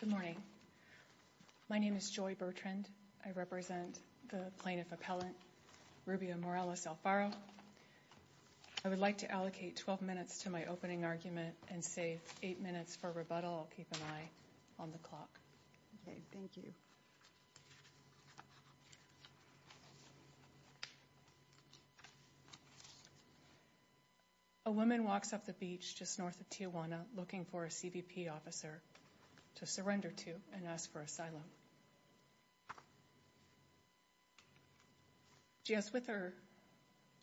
Good morning, my name is Joy Bertrand, I represent the Plaintiff Appellant Rubia Morales-Alfaro. I would like to allocate 12 minutes to my opening argument and save 8 minutes for rebuttal. Keep an eye on the clock. A woman walks up the beach just north of Tijuana looking for a CBP officer to surrender to and ask for asylum. She has with her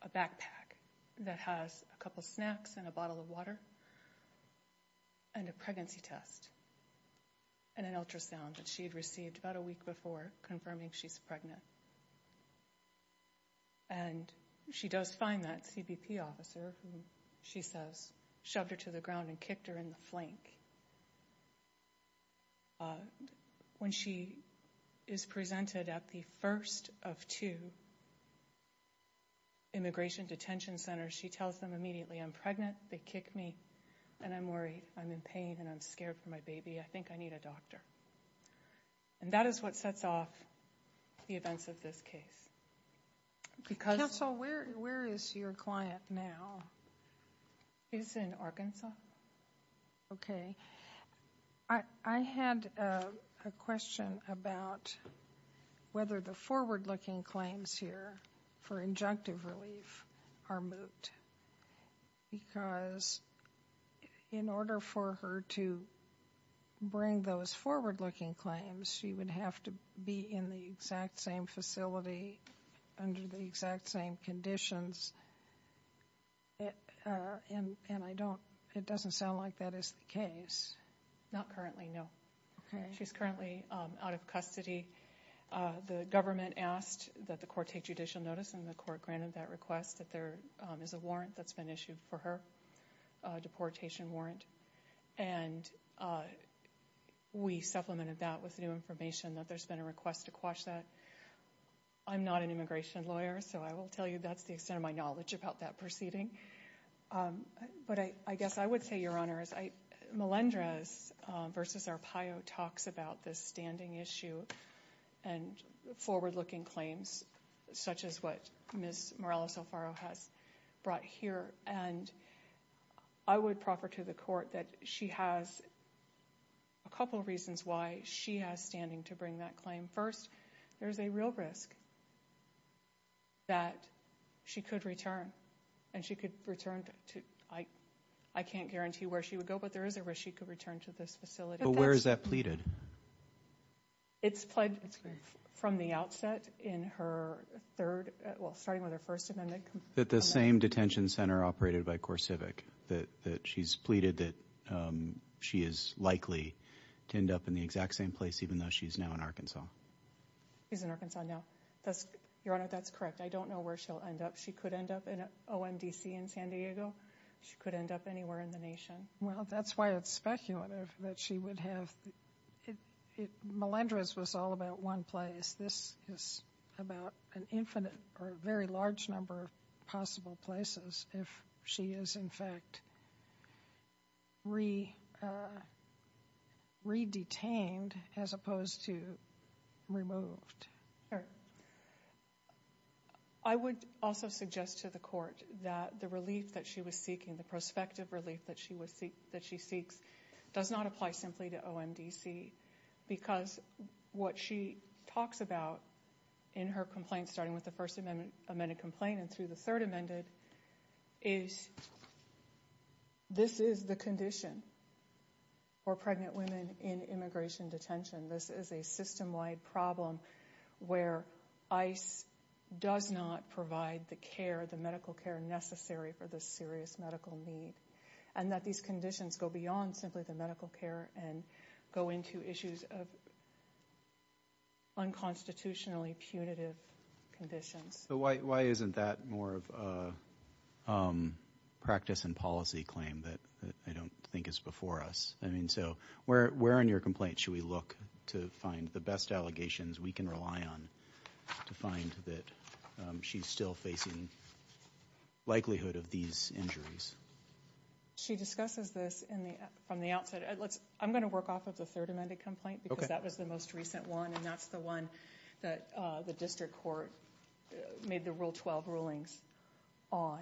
a backpack that has a couple snacks and a bottle of water and a pregnancy test and an ultrasound that she had received about a week before confirming she's pregnant. And she does find that CBP officer who she says shoved her to the ground and kicked her in the flank. When she is presented at the first of two immigration detention centers she tells them immediately I'm pregnant, they kick me and I'm worried, I'm in pain and I'm scared for my baby, I think I need a doctor. And that is what sets off the events of this case. Counsel, where is your client now? She's in Arkansas. Okay. I had a question about whether the forward-looking claims here for injunctive relief are moot because in order for her to bring those forward-looking claims she would have to be in the exact same facility under the exact same conditions. And I don't, it doesn't sound like that is the case. Not currently, no. Okay. She's currently out of custody. The government asked that the court take judicial notice and the court granted that request that there is a warrant that's been issued for her, a deportation warrant. And we supplemented that with new information that there's been a request to quash that. I'm not an immigration lawyer so I will tell you that's the extent of my knowledge about that proceeding. But I guess I would say, Your Honor, Melendrez v. Arpaio talks about this standing issue and forward-looking claims such as what Ms. Morello-Salfaro has brought here. And I would proffer to the court that she has a couple reasons why she has standing to bring that claim. First, there's a real risk that she could return. And she could return to, I can't guarantee where she would go, but there is a risk she could return to this facility. But where is that pleaded? It's pleaded from the outset in her third, well, starting with her First Amendment. That the same detention center operated by CoreCivic, that she's pleaded that she is likely to end up in the exact same place even though she's now in Arkansas. She's in Arkansas now. Your Honor, that's correct. I don't know where she'll end up. She could end up in OMDC in San Diego. She could end up anywhere in the nation. Well, that's why it's speculative that she would have. Melendrez was all about one place. This is about an infinite or a very large number of possible places if she is, in fact, re-detained as opposed to removed. I would also suggest to the court that the relief that she was seeking, the prospective relief that she seeks, does not apply simply to OMDC. Because what she talks about in her complaint, starting with the First Amendment complaint and through the Third Amendment, is this is the condition for pregnant women in immigration detention. This is a system-wide problem where ICE does not provide the care, the medical care, necessary for this serious medical need. And that these conditions go beyond simply the medical care and go into issues of unconstitutionally punitive conditions. So why isn't that more of a practice and policy claim that I don't think is before us? I mean, so where in your complaint should we look to find the best allegations we can rely on to find that she's still facing likelihood of these injuries? She discusses this from the outset. I'm going to work off of the Third Amendment complaint because that was the most recent one. And that's the one that the district court made the Rule 12 rulings on.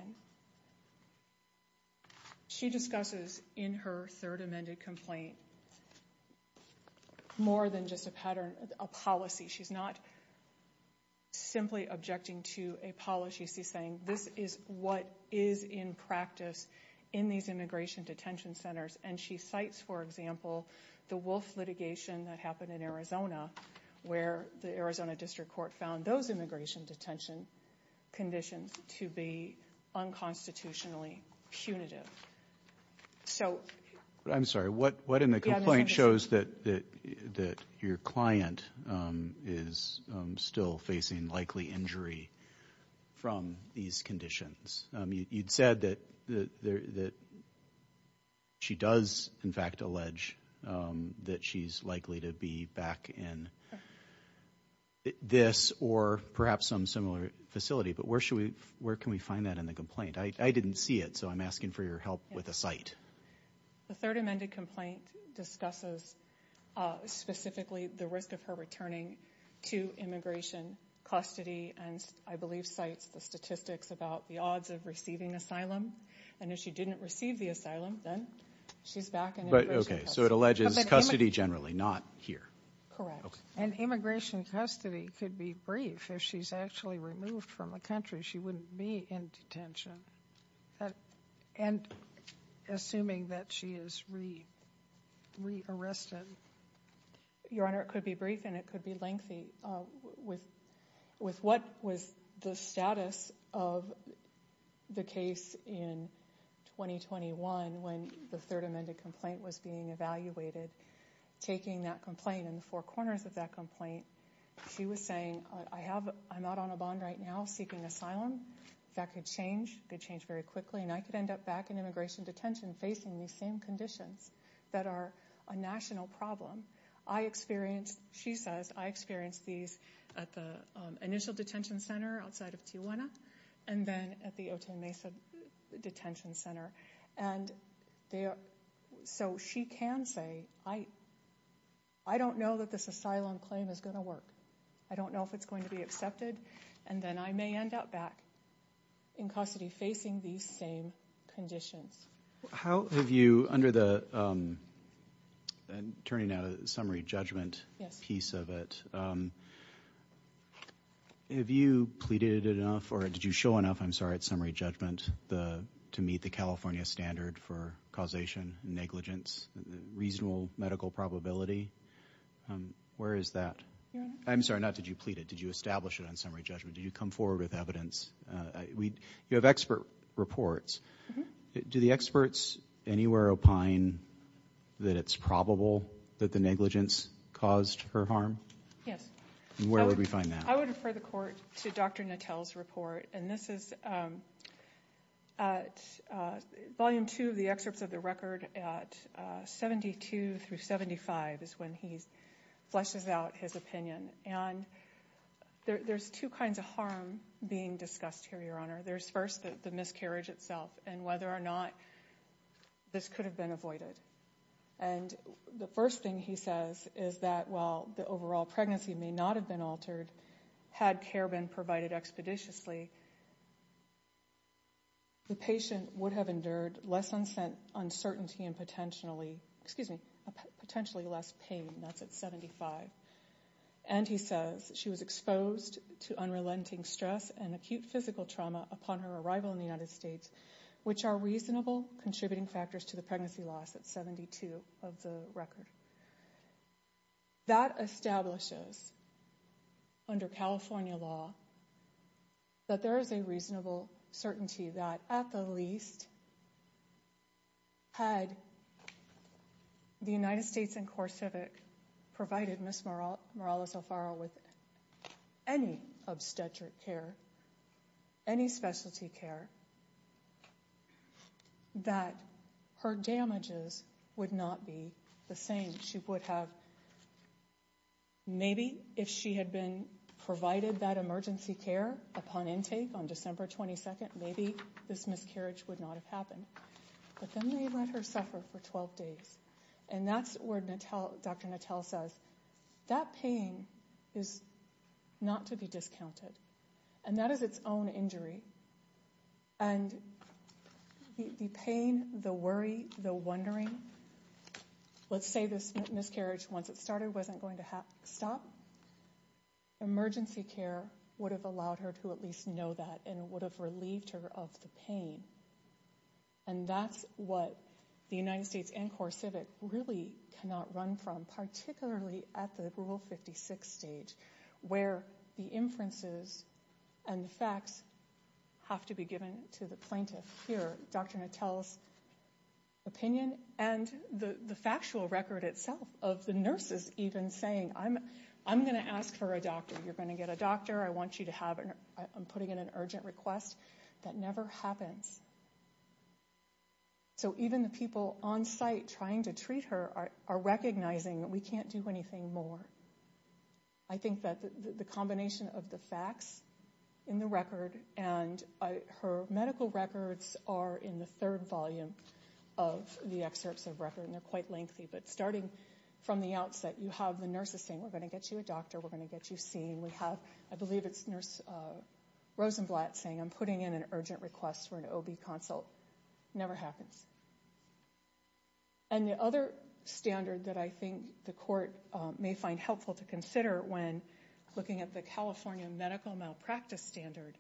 She discusses in her Third Amendment complaint more than just a pattern, a policy. She's not simply objecting to a policy. She's saying this is what is in practice in these immigration detention centers. And she cites, for example, the Wolf litigation that happened in Arizona where the Arizona district court found those immigration detention conditions to be unconstitutionally punitive. So... I'm sorry. What in the complaint shows that your client is still facing likely injury from these conditions? You'd said that she does, in fact, allege that she's likely to be back in this or perhaps some similar facility. But where can we find that in the complaint? I didn't see it, so I'm asking for your help with a cite. The Third Amendment complaint discusses specifically the risk of her returning to immigration custody and, I believe, cites the statistics about the odds of receiving asylum. And if she didn't receive the asylum, then she's back in immigration custody. Okay, so it alleges custody generally, not here. Correct. And immigration custody could be brief. If she's actually removed from the country, she wouldn't be in detention. And assuming that she is re-arrested. Your Honor, it could be brief and it could be lengthy. With what was the status of the case in 2021 when the Third Amendment complaint was being evaluated, taking that complaint and the four corners of that complaint, she was saying, I'm not on a bond right now seeking asylum. That could change, could change very quickly, and I could end up back in immigration detention facing these same conditions that are a national problem. I experienced, she says, I experienced these at the initial detention center outside of Tijuana and then at the Otay Mesa Detention Center. And so she can say, I don't know that this asylum claim is going to work. I don't know if it's going to be accepted. And then I may end up back in custody facing these same conditions. How have you, under the, turning now to the summary judgment piece of it, have you pleaded enough or did you show enough, I'm sorry, at summary judgment to meet the California standard for causation, negligence, reasonable medical probability? Where is that? I'm sorry, not did you plead it, did you establish it on summary judgment? Did you come forward with evidence? You have expert reports. Do the experts anywhere opine that it's probable that the negligence caused her harm? Yes. And where would we find that? I would refer the court to Dr. Natel's report, and this is Volume 2 of the excerpts of the record at 72 through 75 is when he fleshes out his opinion. And there's two kinds of harm being discussed here, Your Honor. There's first the miscarriage itself and whether or not this could have been avoided. And the first thing he says is that while the overall pregnancy may not have been altered, had care been provided expeditiously, the patient would have endured less uncertainty and potentially less pain. That's at 75. And he says she was exposed to unrelenting stress and acute physical trauma upon her arrival in the United States, which are reasonable contributing factors to the pregnancy loss at 72 of the record. That establishes under California law that there is a reasonable certainty that, at the least, had the United States and CoreCivic provided Ms. Morales Alfaro with any obstetric care, any specialty care, that her damages would not be the same. She would have – maybe if she had been provided that emergency care upon intake on December 22, maybe this miscarriage would not have happened. But then they let her suffer for 12 days. And that's where Dr. Nattel says that pain is not to be discounted. And that is its own injury. And the pain, the worry, the wondering, let's say this miscarriage, once it started, wasn't going to stop, emergency care would have allowed her to at least know that and would have relieved her of the pain. And that's what the United States and CoreCivic really cannot run from, particularly at the Rule 56 stage, where the inferences and the facts have to be given to the plaintiff. Here, Dr. Nattel's opinion and the factual record itself of the nurses even saying, I'm going to ask for a doctor, you're going to get a doctor, I want you to have – I'm putting in an urgent request. That never happens. So even the people on site trying to treat her are recognizing that we can't do anything more. I think that the combination of the facts in the record and her medical records are in the third volume of the excerpts of record, and they're quite lengthy. But starting from the outset, you have the nurses saying, we're going to get you a doctor, we're going to get you seen. We have, I believe it's Nurse Rosenblatt saying, I'm putting in an urgent request for an OB consult. Never happens. And the other standard that I think the court may find helpful to consider when looking at the California medical malpractice standard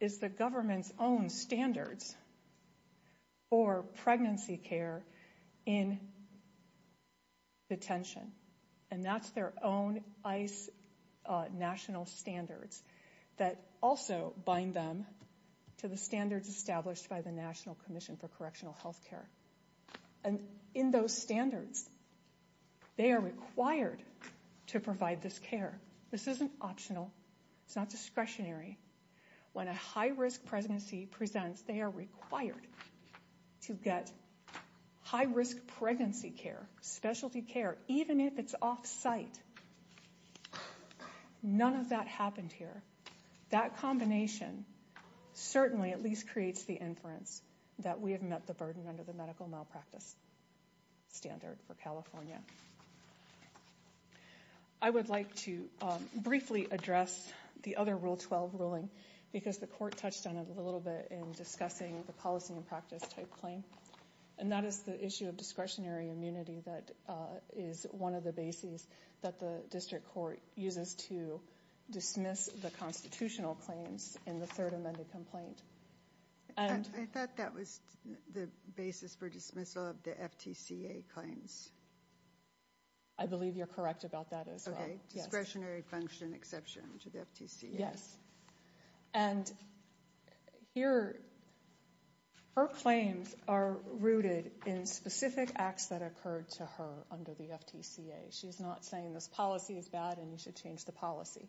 is the government's own standards for pregnancy care in detention. And that's their own ICE national standards that also bind them to the standards established by the National Commission for Correctional Health Care. And in those standards, they are required to provide this care. This isn't optional. It's not discretionary. When a high risk pregnancy presents, they are required to get high risk pregnancy care, specialty care, even if it's off site. None of that happened here. That combination certainly at least creates the inference that we have met the burden under the medical malpractice standard for California. I would like to briefly address the other Rule 12 ruling because the court touched on it a little bit in discussing the policy and practice type claim. And that is the issue of discretionary immunity. That is one of the bases that the district court uses to dismiss the constitutional claims in the third amended complaint. I thought that was the basis for dismissal of the FTCA claims. I believe you're correct about that as well. Discretionary function exception to the FTCA. Yes. And here, her claims are rooted in specific acts that occurred to her under the FTCA. She's not saying this policy is bad and you should change the policy.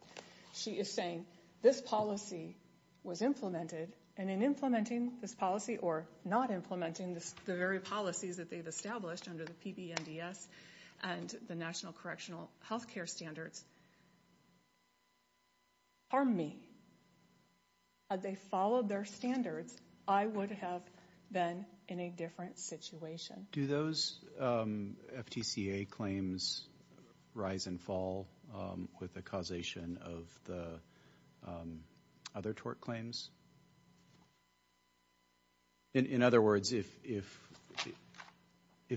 She is saying this policy was implemented and in implementing this policy or not implementing the very policies that they've established under the PBNDS and the National Correctional Health Care Standards. Pardon me. Had they followed their standards, I would have been in a different situation. Do those FTCA claims rise and fall with the causation of the other tort claims? In other words, if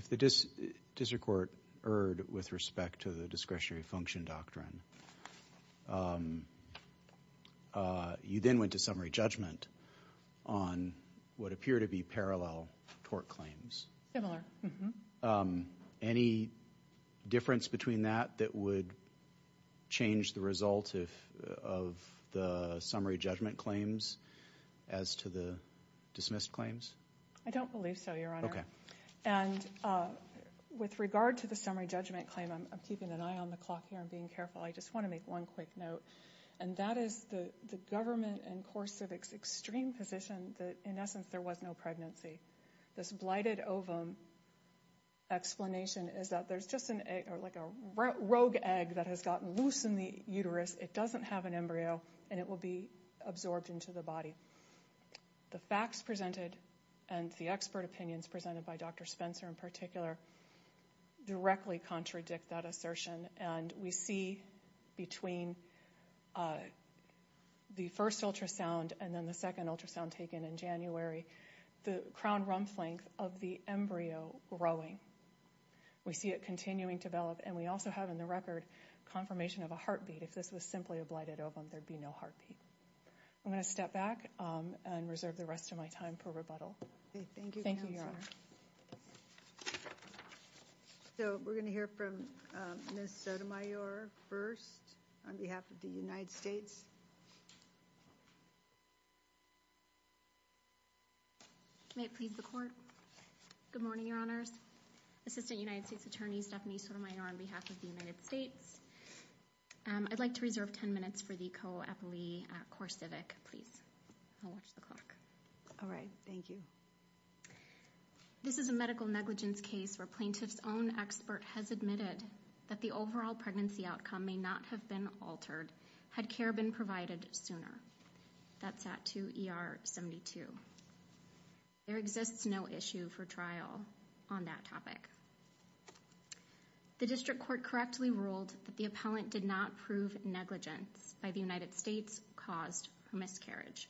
the district court erred with respect to the discretionary function doctrine, you then went to summary judgment on what appear to be parallel tort claims. Similar. Any difference between that that would change the result of the summary judgment claims as to the dismissed claims? I don't believe so, Your Honor. Okay. And with regard to the summary judgment claim, I'm keeping an eye on the clock here and being careful. I just want to make one quick note. And that is the government in course of its extreme position that in essence there was no pregnancy. This blighted ovum explanation is that there's just an egg or like a rogue egg that has gotten loose in the uterus. It doesn't have an embryo and it will be absorbed into the body. The facts presented and the expert opinions presented by Dr. Spencer in particular directly contradict that assertion. And we see between the first ultrasound and then the second ultrasound taken in January the crown rump length of the embryo growing. We see it continuing to develop. And we also have in the record confirmation of a heartbeat. If this was simply a blighted ovum, there would be no heartbeat. I'm going to step back and reserve the rest of my time for rebuttal. Thank you, Counselor. Thank you, Your Honor. So we're going to hear from Ms. Sotomayor first on behalf of the United States. May it please the court. Good morning, Your Honors. Assistant United States Attorney Stephanie Sotomayor on behalf of the United States. I'd like to reserve 10 minutes for the co-appellee, Cora Civic, please. I'll watch the clock. All right. Thank you. This is a medical negligence case where plaintiff's own expert has admitted that the overall pregnancy outcome may not have been altered had care been provided sooner. That's at 2 ER 72. There exists no issue for trial on that topic. The district court correctly ruled that the appellant did not prove negligence by the United States caused miscarriage.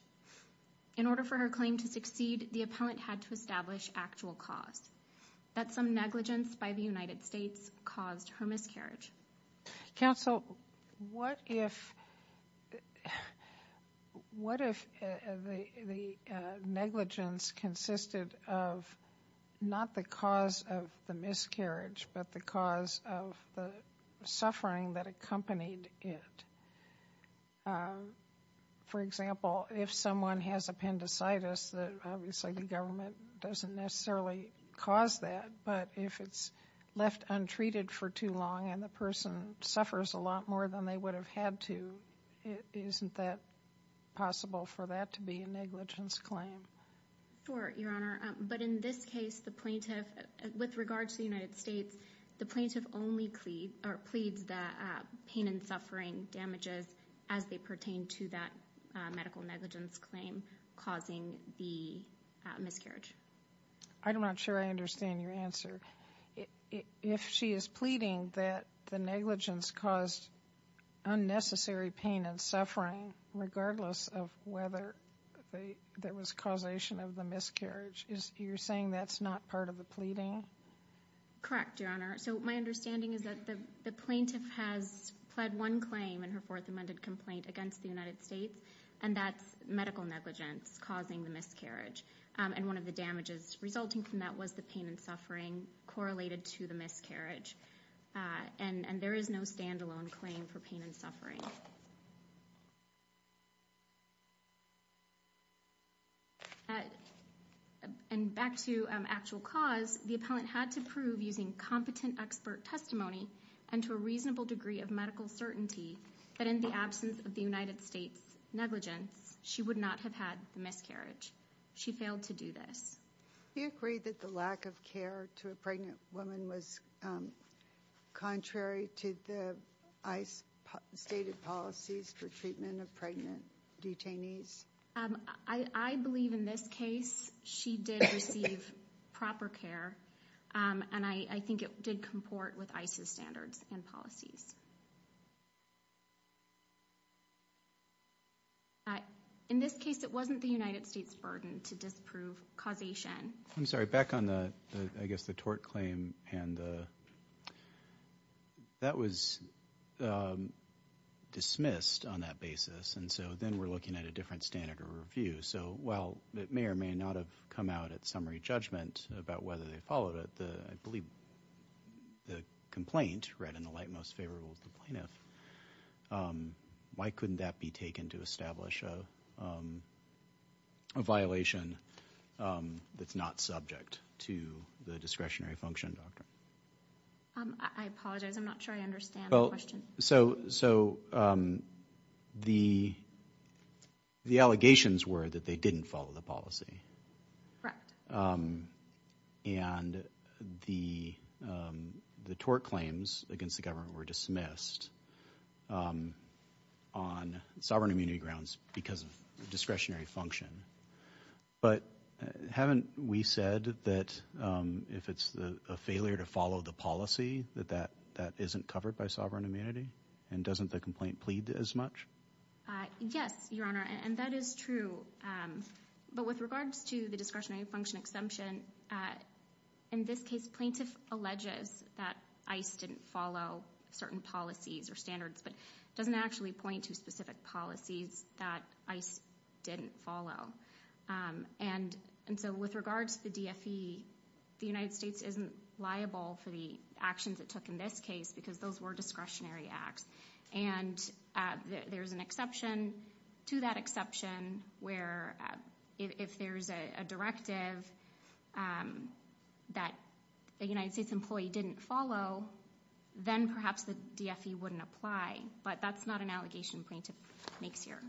In order for her claim to succeed, the appellant had to establish actual cause that some negligence by the United States caused her miscarriage. Counsel, what if what if the negligence consisted of not the cause of the miscarriage, but the cause of the suffering that accompanied it? For example, if someone has appendicitis, obviously the government doesn't necessarily cause that. But if it's left untreated for too long and the person suffers a lot more than they would have had to, isn't that possible for that to be a negligence claim? Sure, Your Honor. But in this case, the plaintiff with regards to the United States, the plaintiff only plead or pleads that pain and suffering damages as they pertain to that medical negligence claim causing the miscarriage. I'm not sure I understand your answer. If she is pleading that the negligence caused unnecessary pain and suffering, regardless of whether there was causation of the miscarriage, you're saying that's not part of the pleading? Correct, Your Honor. So my understanding is that the plaintiff has pled one claim in her fourth amended complaint against the United States, and that's medical negligence causing the miscarriage. And one of the damages resulting from that was the pain and suffering correlated to the miscarriage. And there is no standalone claim for pain and suffering. And back to actual cause, the appellant had to prove using competent expert testimony and to a reasonable degree of medical certainty that in the absence of the United States negligence, she would not have had the miscarriage. She failed to do this. Do you agree that the lack of care to a pregnant woman was contrary to the ICE stated policies for treatment of pregnant detainees? I believe in this case she did receive proper care, and I think it did comport with ICE's standards and policies. In this case, it wasn't the United States' burden to disprove causation. I'm sorry, back on the, I guess the tort claim, and that was dismissed on that basis. And so then we're looking at a different standard of review. So while it may or may not have come out at summary judgment about whether they followed it, I believe the complaint read in the light most favorable of the plaintiff. Why couldn't that be taken to establish a violation that's not subject to the discretionary function doctrine? I apologize, I'm not sure I understand the question. So the allegations were that they didn't follow the policy. And the tort claims against the government were dismissed on sovereign immunity grounds because of discretionary function. But haven't we said that if it's a failure to follow the policy, that that isn't covered by sovereign immunity? And doesn't the complaint plead as much? Yes, Your Honor, and that is true. But with regards to the discretionary function exemption, in this case, plaintiff alleges that ICE didn't follow certain policies or standards, but doesn't actually point to specific policies that ICE didn't follow. And so with regards to the DFE, the United States isn't liable for the actions it took in this case because those were discretionary acts. And there's an exception to that exception where if there's a directive that the United States employee didn't follow, then perhaps the DFE wouldn't apply. But that's not an allegation plaintiff makes here.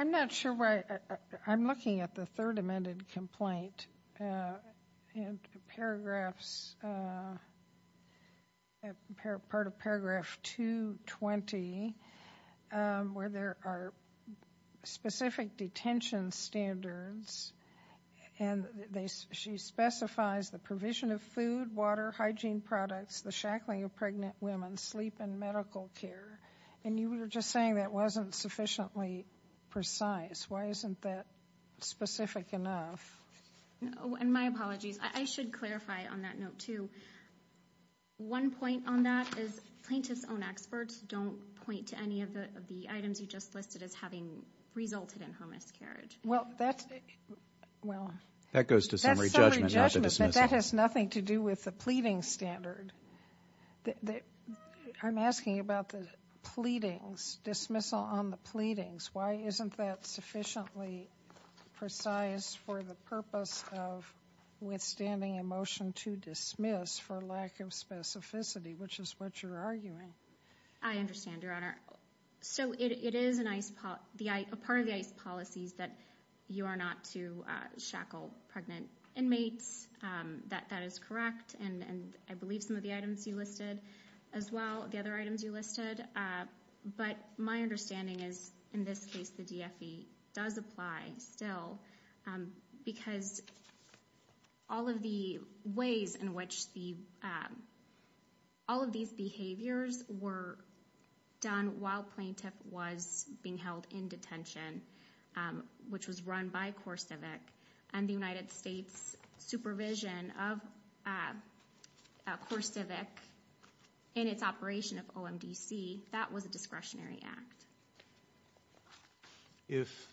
I'm not sure why I'm looking at the third amended complaint in paragraphs, part of paragraph 220, where there are specific detention standards. And she specifies the provision of food, water, hygiene products, the shackling of pregnant women, sleep and medical care. And you were just saying that wasn't sufficiently precise. Why isn't that specific enough? And my apologies. I should clarify on that note, too. One point on that is plaintiff's own experts don't point to any of the items you just listed as having resulted in her miscarriage. Well, that goes to summary judgment, not the dismissal. That has nothing to do with the pleading standard. I'm asking about the pleadings, dismissal on the pleadings. Why isn't that sufficiently precise for the purpose of withstanding a motion to dismiss for lack of specificity, which is what you're arguing? I understand, Your Honor. So it is a part of the ICE policies that you are not to shackle pregnant inmates. That is correct. And I believe some of the items you listed as well, the other items you listed. But my understanding is in this case the DFE does apply still because all of the ways in which all of these behaviors were done while plaintiff was being held in detention, which was run by CoreCivic, and the United States supervision of CoreCivic in its operation of OMDC, that was a discretionary act. If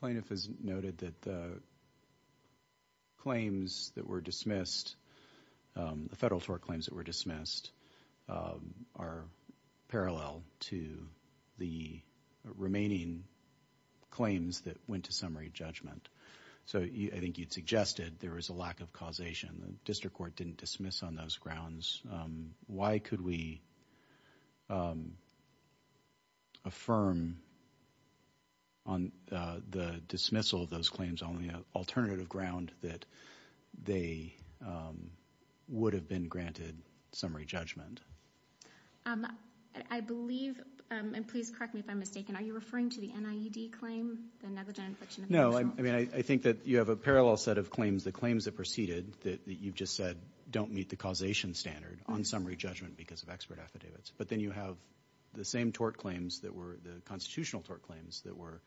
plaintiff has noted that the claims that were dismissed, the federal tort claims that were dismissed are parallel to the remaining claims that went to summary judgment. So I think you'd suggested there was a lack of causation. The district court didn't dismiss on those grounds. Why could we affirm on the dismissal of those claims only an alternative ground that they would have been granted summary judgment? I believe, and please correct me if I'm mistaken, are you referring to the NIED claim? The negligent infriction of national insurance? I mean, I think that you have a parallel set of claims. The claims that preceded that you've just said don't meet the causation standard on summary judgment because of expert affidavits. But then you have the same tort claims that were, the constitutional tort claims that were,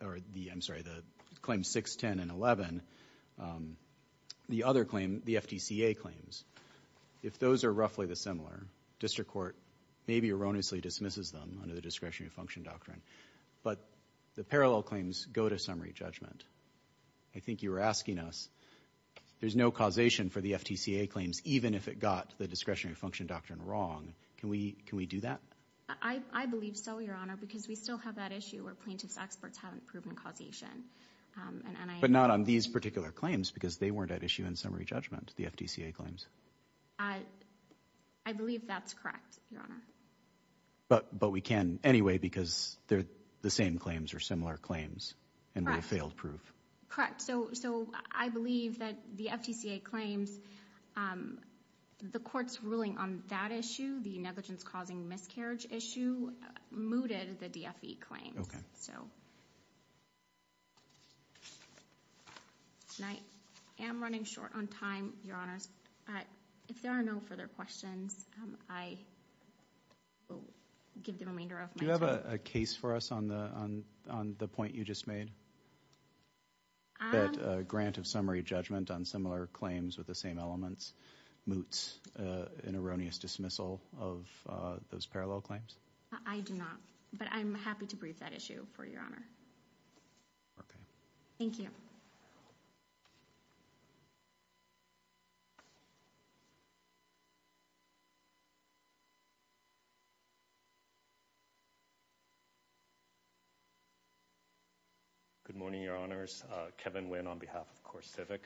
or the, I'm sorry, the claims 6, 10, and 11. The other claim, the FTCA claims, if those are roughly the similar, district court maybe erroneously dismisses them under the discretionary function doctrine. But the parallel claims go to summary judgment. I think you were asking us, there's no causation for the FTCA claims even if it got the discretionary function doctrine wrong. Can we do that? I believe so, Your Honor, because we still have that issue where plaintiff's experts haven't proven causation. But not on these particular claims because they weren't at issue in summary judgment, the FTCA claims. I believe that's correct, Your Honor. But we can anyway because they're the same claims or similar claims and we have failed proof. So I believe that the FTCA claims, the court's ruling on that issue, the negligence-causing miscarriage issue, mooted the DFE claims. And I am running short on time, Your Honor. If there are no further questions, I will give the remainder of my time. Do you have a case for us on the point you just made? That a grant of summary judgment on similar claims with the same elements moots an erroneous dismissal of those parallel claims? I do not. But I'm happy to brief that issue for you, Your Honor. Okay. Thank you. Good morning, Your Honors. Kevin Nguyen on behalf of CoreCivic.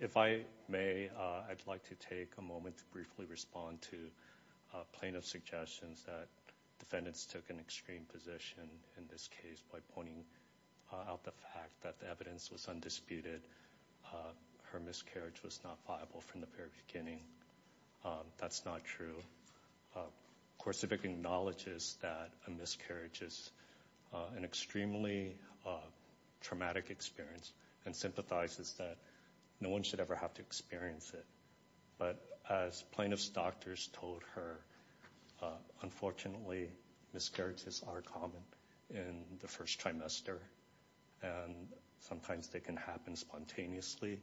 If I may, I'd like to take a moment to briefly respond to plaintiff's suggestions that defendants took an extreme position in this case by pointing out the fact that the evidence was undisputed. Her miscarriage was not viable from the very beginning. That's not true. CoreCivic acknowledges that a miscarriage is an extremely traumatic experience and sympathizes that no one should ever have to experience it. But as plaintiff's doctors told her, unfortunately, miscarriages are common in the first trimester. And sometimes they can happen spontaneously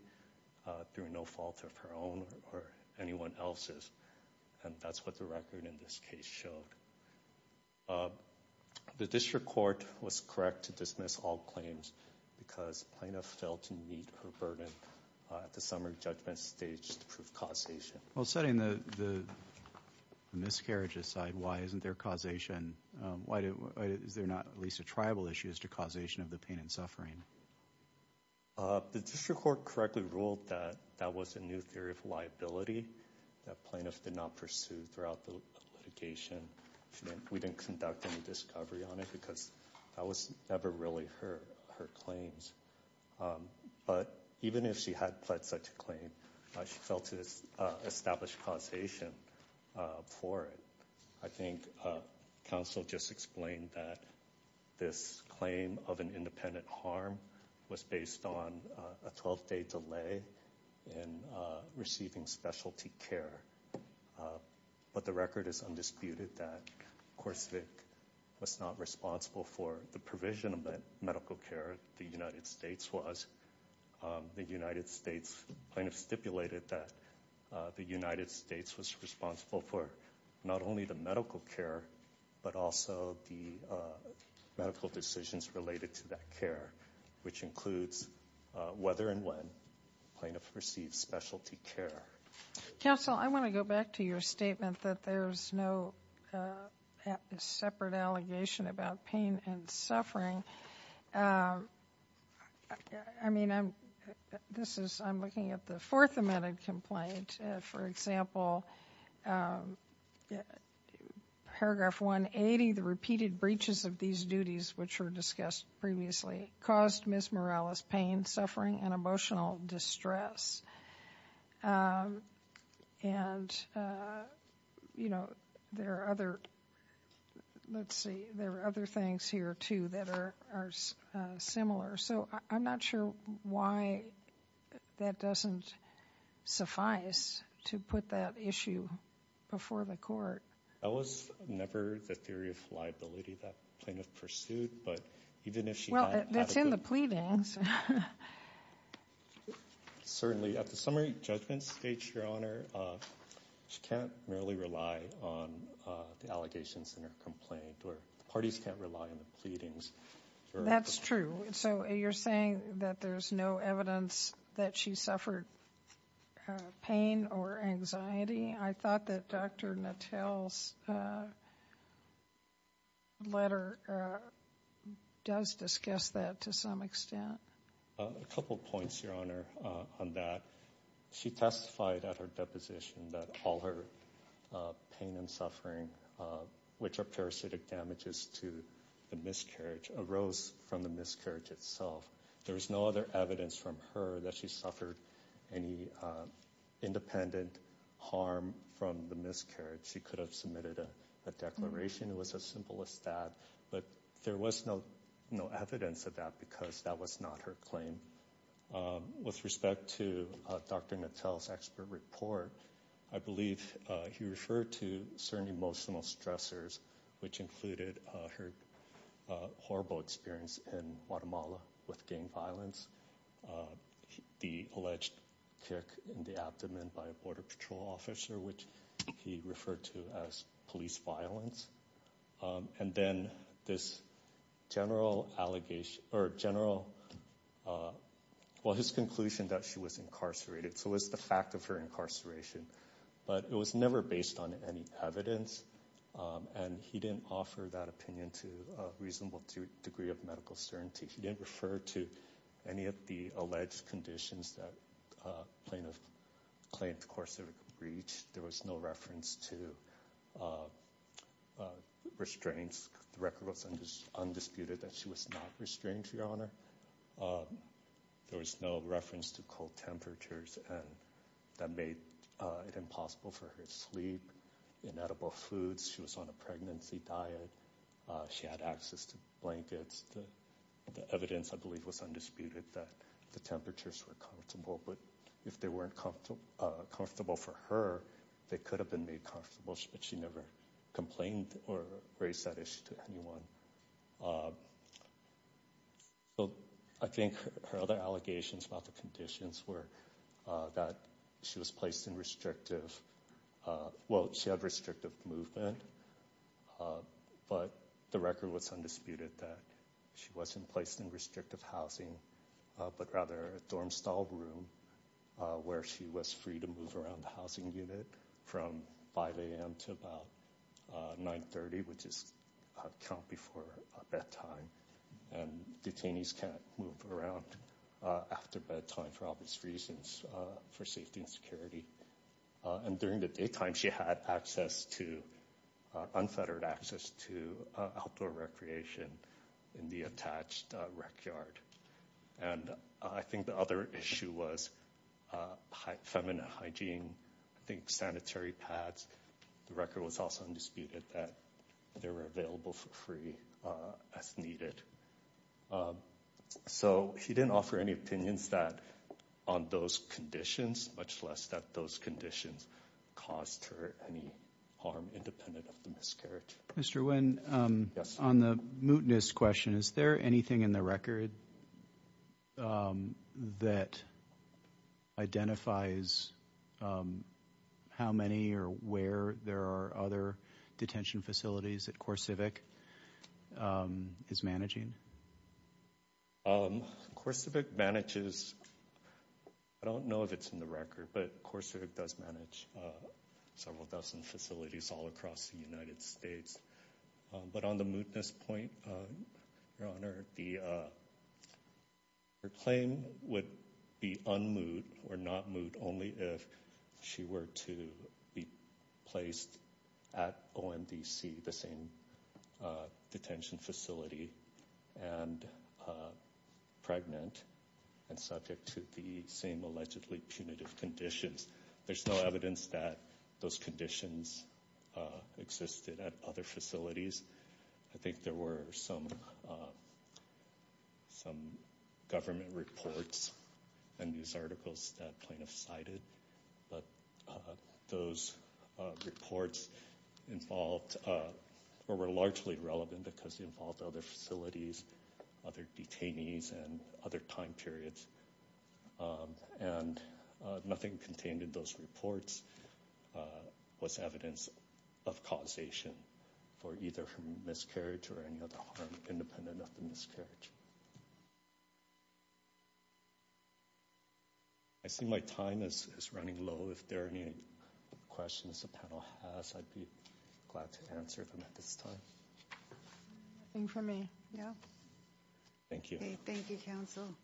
through no fault of her own or anyone else's. And that's what the record in this case showed. The district court was correct to dismiss all claims because plaintiff failed to meet her burden at the summary judgment stage to prove causation. Setting the miscarriage aside, why isn't there causation? Is there not at least a tribal issue as to causation of the pain and suffering? The district court correctly ruled that that was a new theory of liability that plaintiffs did not pursue throughout the litigation. We didn't conduct any discovery on it because that was never really her claims. But even if she had pled such a claim, she failed to establish causation for it. I think counsel just explained that this claim of an independent harm was based on a 12-day delay in receiving specialty care. But the record is undisputed that CoreCivic was not responsible for the provision of medical care. The United States was. The United States plaintiff stipulated that the United States was responsible for not only the medical care, but also the medical decisions related to that care, which includes whether and when plaintiffs received specialty care. Counsel, I want to go back to your statement that there's no separate allegation about pain and suffering. I mean, I'm this is I'm looking at the fourth amended complaint. For example, paragraph 180, the repeated breaches of these duties, which were discussed previously, caused Ms. Morales pain, suffering and emotional distress. And, you know, there are other let's see, there are other things here, too, that are similar. So I'm not sure why that doesn't suffice to put that issue before the court. That was never the theory of liability that plaintiff pursued. But even if she well, that's in the pleadings. Certainly at the summary judgment stage, your honor, she can't merely rely on the allegations in her complaint or parties can't rely on the pleadings. That's true. So you're saying that there's no evidence that she suffered pain or anxiety. I thought that Dr. Mattel's letter does discuss that to some extent. A couple of points, your honor, on that. She testified at her deposition that all her pain and suffering, which are parasitic damages to the miscarriage, arose from the miscarriage itself. There is no other evidence from her that she suffered any independent harm from the miscarriage. She could have submitted a declaration. It was as simple as that. But there was no evidence of that because that was not her claim. With respect to Dr. Mattel's expert report, I believe he referred to certain emotional stressors, which included her horrible experience in Guatemala with gang violence. The alleged kick in the abdomen by a border patrol officer, which he referred to as police violence. And then his conclusion that she was incarcerated. So it was the fact of her incarceration, but it was never based on any evidence. And he didn't offer that opinion to a reasonable degree of medical certainty. He didn't refer to any of the alleged conditions that plaintiff claimed to course of a breach. There was no reference to restraints. The record was undisputed that she was not restrained, your honor. There was no reference to cold temperatures that made it impossible for her to sleep, inedible foods. She was on a pregnancy diet. She had access to blankets. The evidence, I believe, was undisputed that the temperatures were comfortable. But if they weren't comfortable for her, they could have been made comfortable. But she never complained or raised that issue to anyone. I think her other allegations about the conditions were that she was placed in restrictive – well, she had restrictive movement. But the record was undisputed that she wasn't placed in restrictive housing, but rather a dorm-style room where she was free to move around the housing unit from 5 a.m. to about 9.30, which is count before bedtime. And detainees can't move around after bedtime for obvious reasons for safety and security. And during the daytime, she had access to – unfettered access to outdoor recreation in the attached rec yard. And I think the other issue was feminine hygiene. I think sanitary pads. The record was also undisputed that they were available for free as needed. So she didn't offer any opinions on those conditions, much less that those conditions caused her any harm independent of the miscarriage. Mr. Nguyen, on the mootness question, is there anything in the record that identifies how many or where there are other detention facilities that CoreCivic is managing? CoreCivic manages – I don't know if it's in the record, but CoreCivic does manage several dozen facilities all across the United States. But on the mootness point, Your Honor, her claim would be unmoot or not moot only if she were to be placed at OMDC, the same detention facility, and pregnant and subject to the same allegedly punitive conditions. There's no evidence that those conditions existed at other facilities. I think there were some government reports and news articles that plaintiffs cited. But those reports were largely relevant because they involved other facilities, other detainees, and other time periods. And nothing contained in those reports was evidence of causation for either her miscarriage or any other harm independent of the miscarriage. I see my time is running low. If there are any questions the panel has, I'd be glad to answer them at this time. Nothing for me, no. Thank you. Thank you, counsel.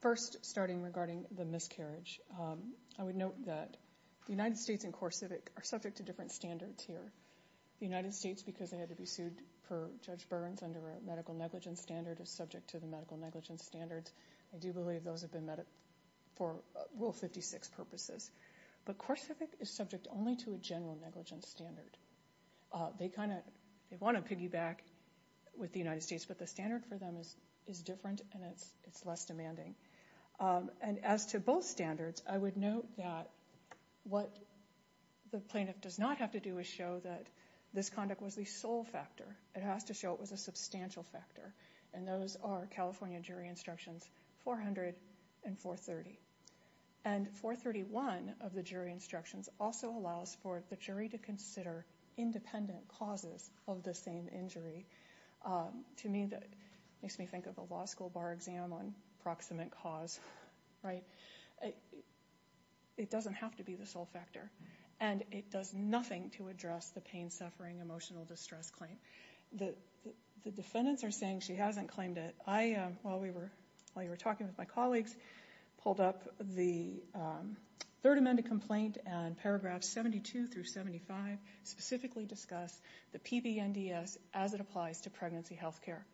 First, starting regarding the miscarriage, I would note that the United States and CoreCivic are subject to different standards here. The United States, because they had to be sued for Judge Burns under a medical negligence standard, is subject to the medical negligence standards. I do believe those have been met for Rule 56 purposes. But CoreCivic is subject only to a general negligence standard. They want to piggyback with the United States, but the standard for them is different and it's less demanding. And as to both standards, I would note that what the plaintiff does not have to do is show that this conduct was the sole factor. It has to show it was a substantial factor. And those are California Jury Instructions 400 and 430. And 431 of the Jury Instructions also allows for the jury to consider independent causes of the same injury. To me, that makes me think of a law school bar exam on proximate cause, right? It doesn't have to be the sole factor. And it does nothing to address the pain, suffering, emotional distress claim. The defendants are saying she hasn't claimed it. I, while you were talking with my colleagues, pulled up the third amended complaint and paragraphs 72 through 75, specifically discuss the PBNDS as it applies to pregnancy health care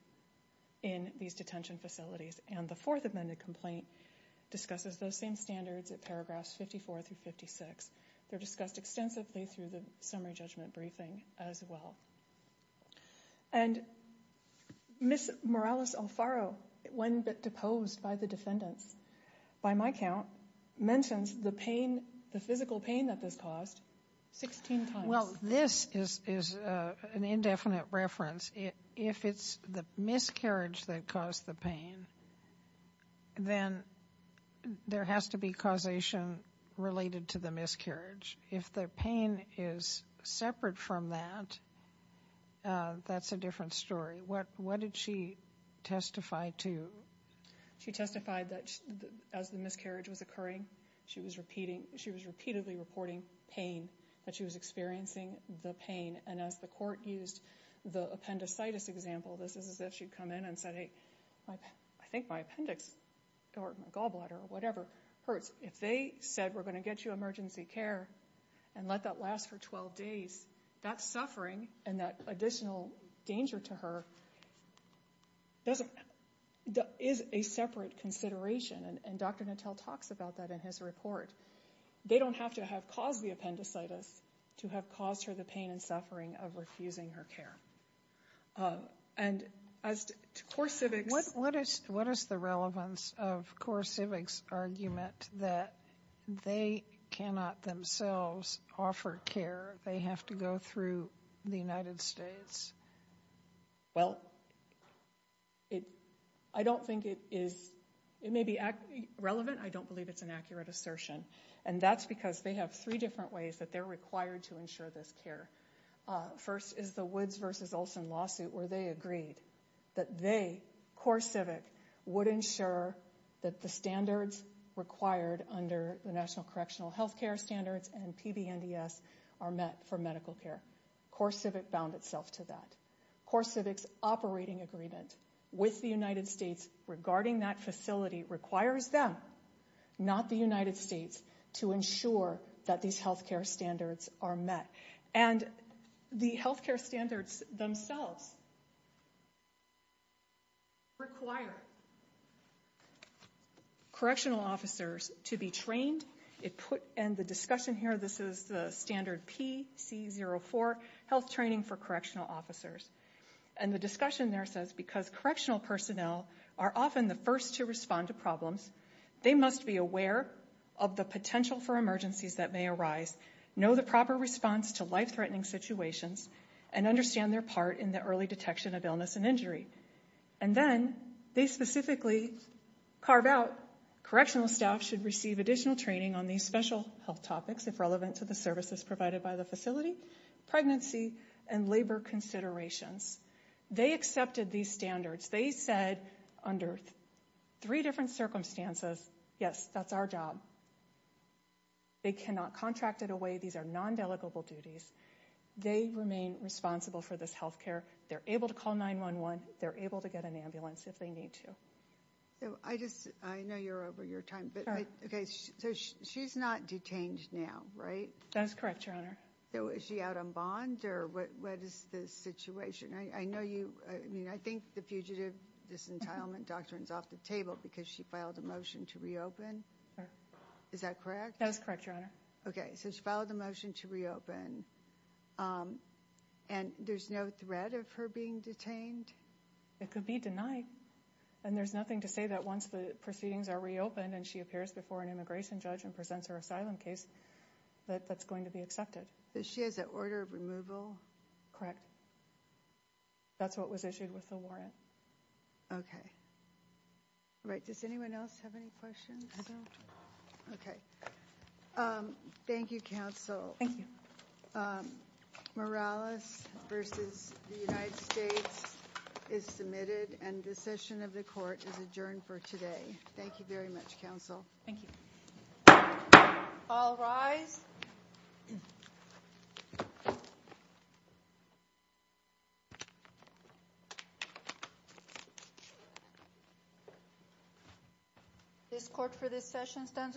in these detention facilities. And the fourth amended complaint discusses those same standards at paragraphs 54 through 56. They're discussed extensively through the Summary Judgment Briefing as well. And Ms. Morales-Alfaro, when deposed by the defendants, by my count, mentions the pain, the physical pain that this caused 16 times. Well, this is an indefinite reference. If it's the miscarriage that caused the pain, then there has to be causation related to the miscarriage. If the pain is separate from that, that's a different story. What did she testify to? She testified that as the miscarriage was occurring, she was repeatedly reporting pain, that she was experiencing the pain. And as the court used the appendicitis example, this is as if she'd come in and said, I think my appendix or my gallbladder or whatever hurts. If they said, we're going to get you emergency care and let that last for 12 days, that suffering and that additional danger to her is a separate consideration. And Dr. Nattel talks about that in his report. They don't have to have caused the appendicitis to have caused her the pain and suffering of refusing her care. And as to CoreCivics- What is the relevance of CoreCivics' argument that they cannot themselves offer care? They have to go through the United States? Well, I don't think it is. It may be relevant. I don't believe it's an accurate assertion. And that's because they have three different ways that they're required to ensure this care. First is the Woods v. Olson lawsuit where they agreed that they, CoreCivic, would ensure that the standards required under the National Correctional Health Care Standards and PBNDS are met for medical care. CoreCivics bound itself to that. CoreCivics' operating agreement with the United States regarding that facility requires them, not the United States, to ensure that these health care standards are met. And the health care standards themselves require correctional officers to be trained. And the discussion here, this is the standard PC04, health training for correctional officers. And the discussion there says because correctional personnel are often the first to respond to problems, they must be aware of the potential for emergencies that may arise, know the proper response to life-threatening situations, and understand their part in the early detection of illness and injury. And then they specifically carve out, correctional staff should receive additional training on these special health topics if relevant to the services provided by the facility, pregnancy, and labor considerations. They accepted these standards. They said under three different circumstances, yes, that's our job. They cannot contract it away. These are non-delegable duties. They remain responsible for this health care. They're able to call 911. They're able to get an ambulance if they need to. I know you're over your time, but she's not detained now, right? That is correct, Your Honor. Is she out on bond, or what is the situation? I think the fugitive disentilement doctrine is off the table because she filed a motion to reopen. Is that correct? That is correct, Your Honor. Okay, so she filed a motion to reopen, and there's no threat of her being detained? It could be denied. And there's nothing to say that once the proceedings are reopened and she appears before an immigration judge and presents her asylum case, that that's going to be accepted. So she has an order of removal? Correct. That's what was issued with the warrant. Okay. All right, does anyone else have any questions? I don't. Okay. Thank you, counsel. Thank you. Morales v. The United States is submitted, and the session of the court is adjourned for today. Thank you very much, counsel. Thank you. All rise. This court for this session stands adjourned.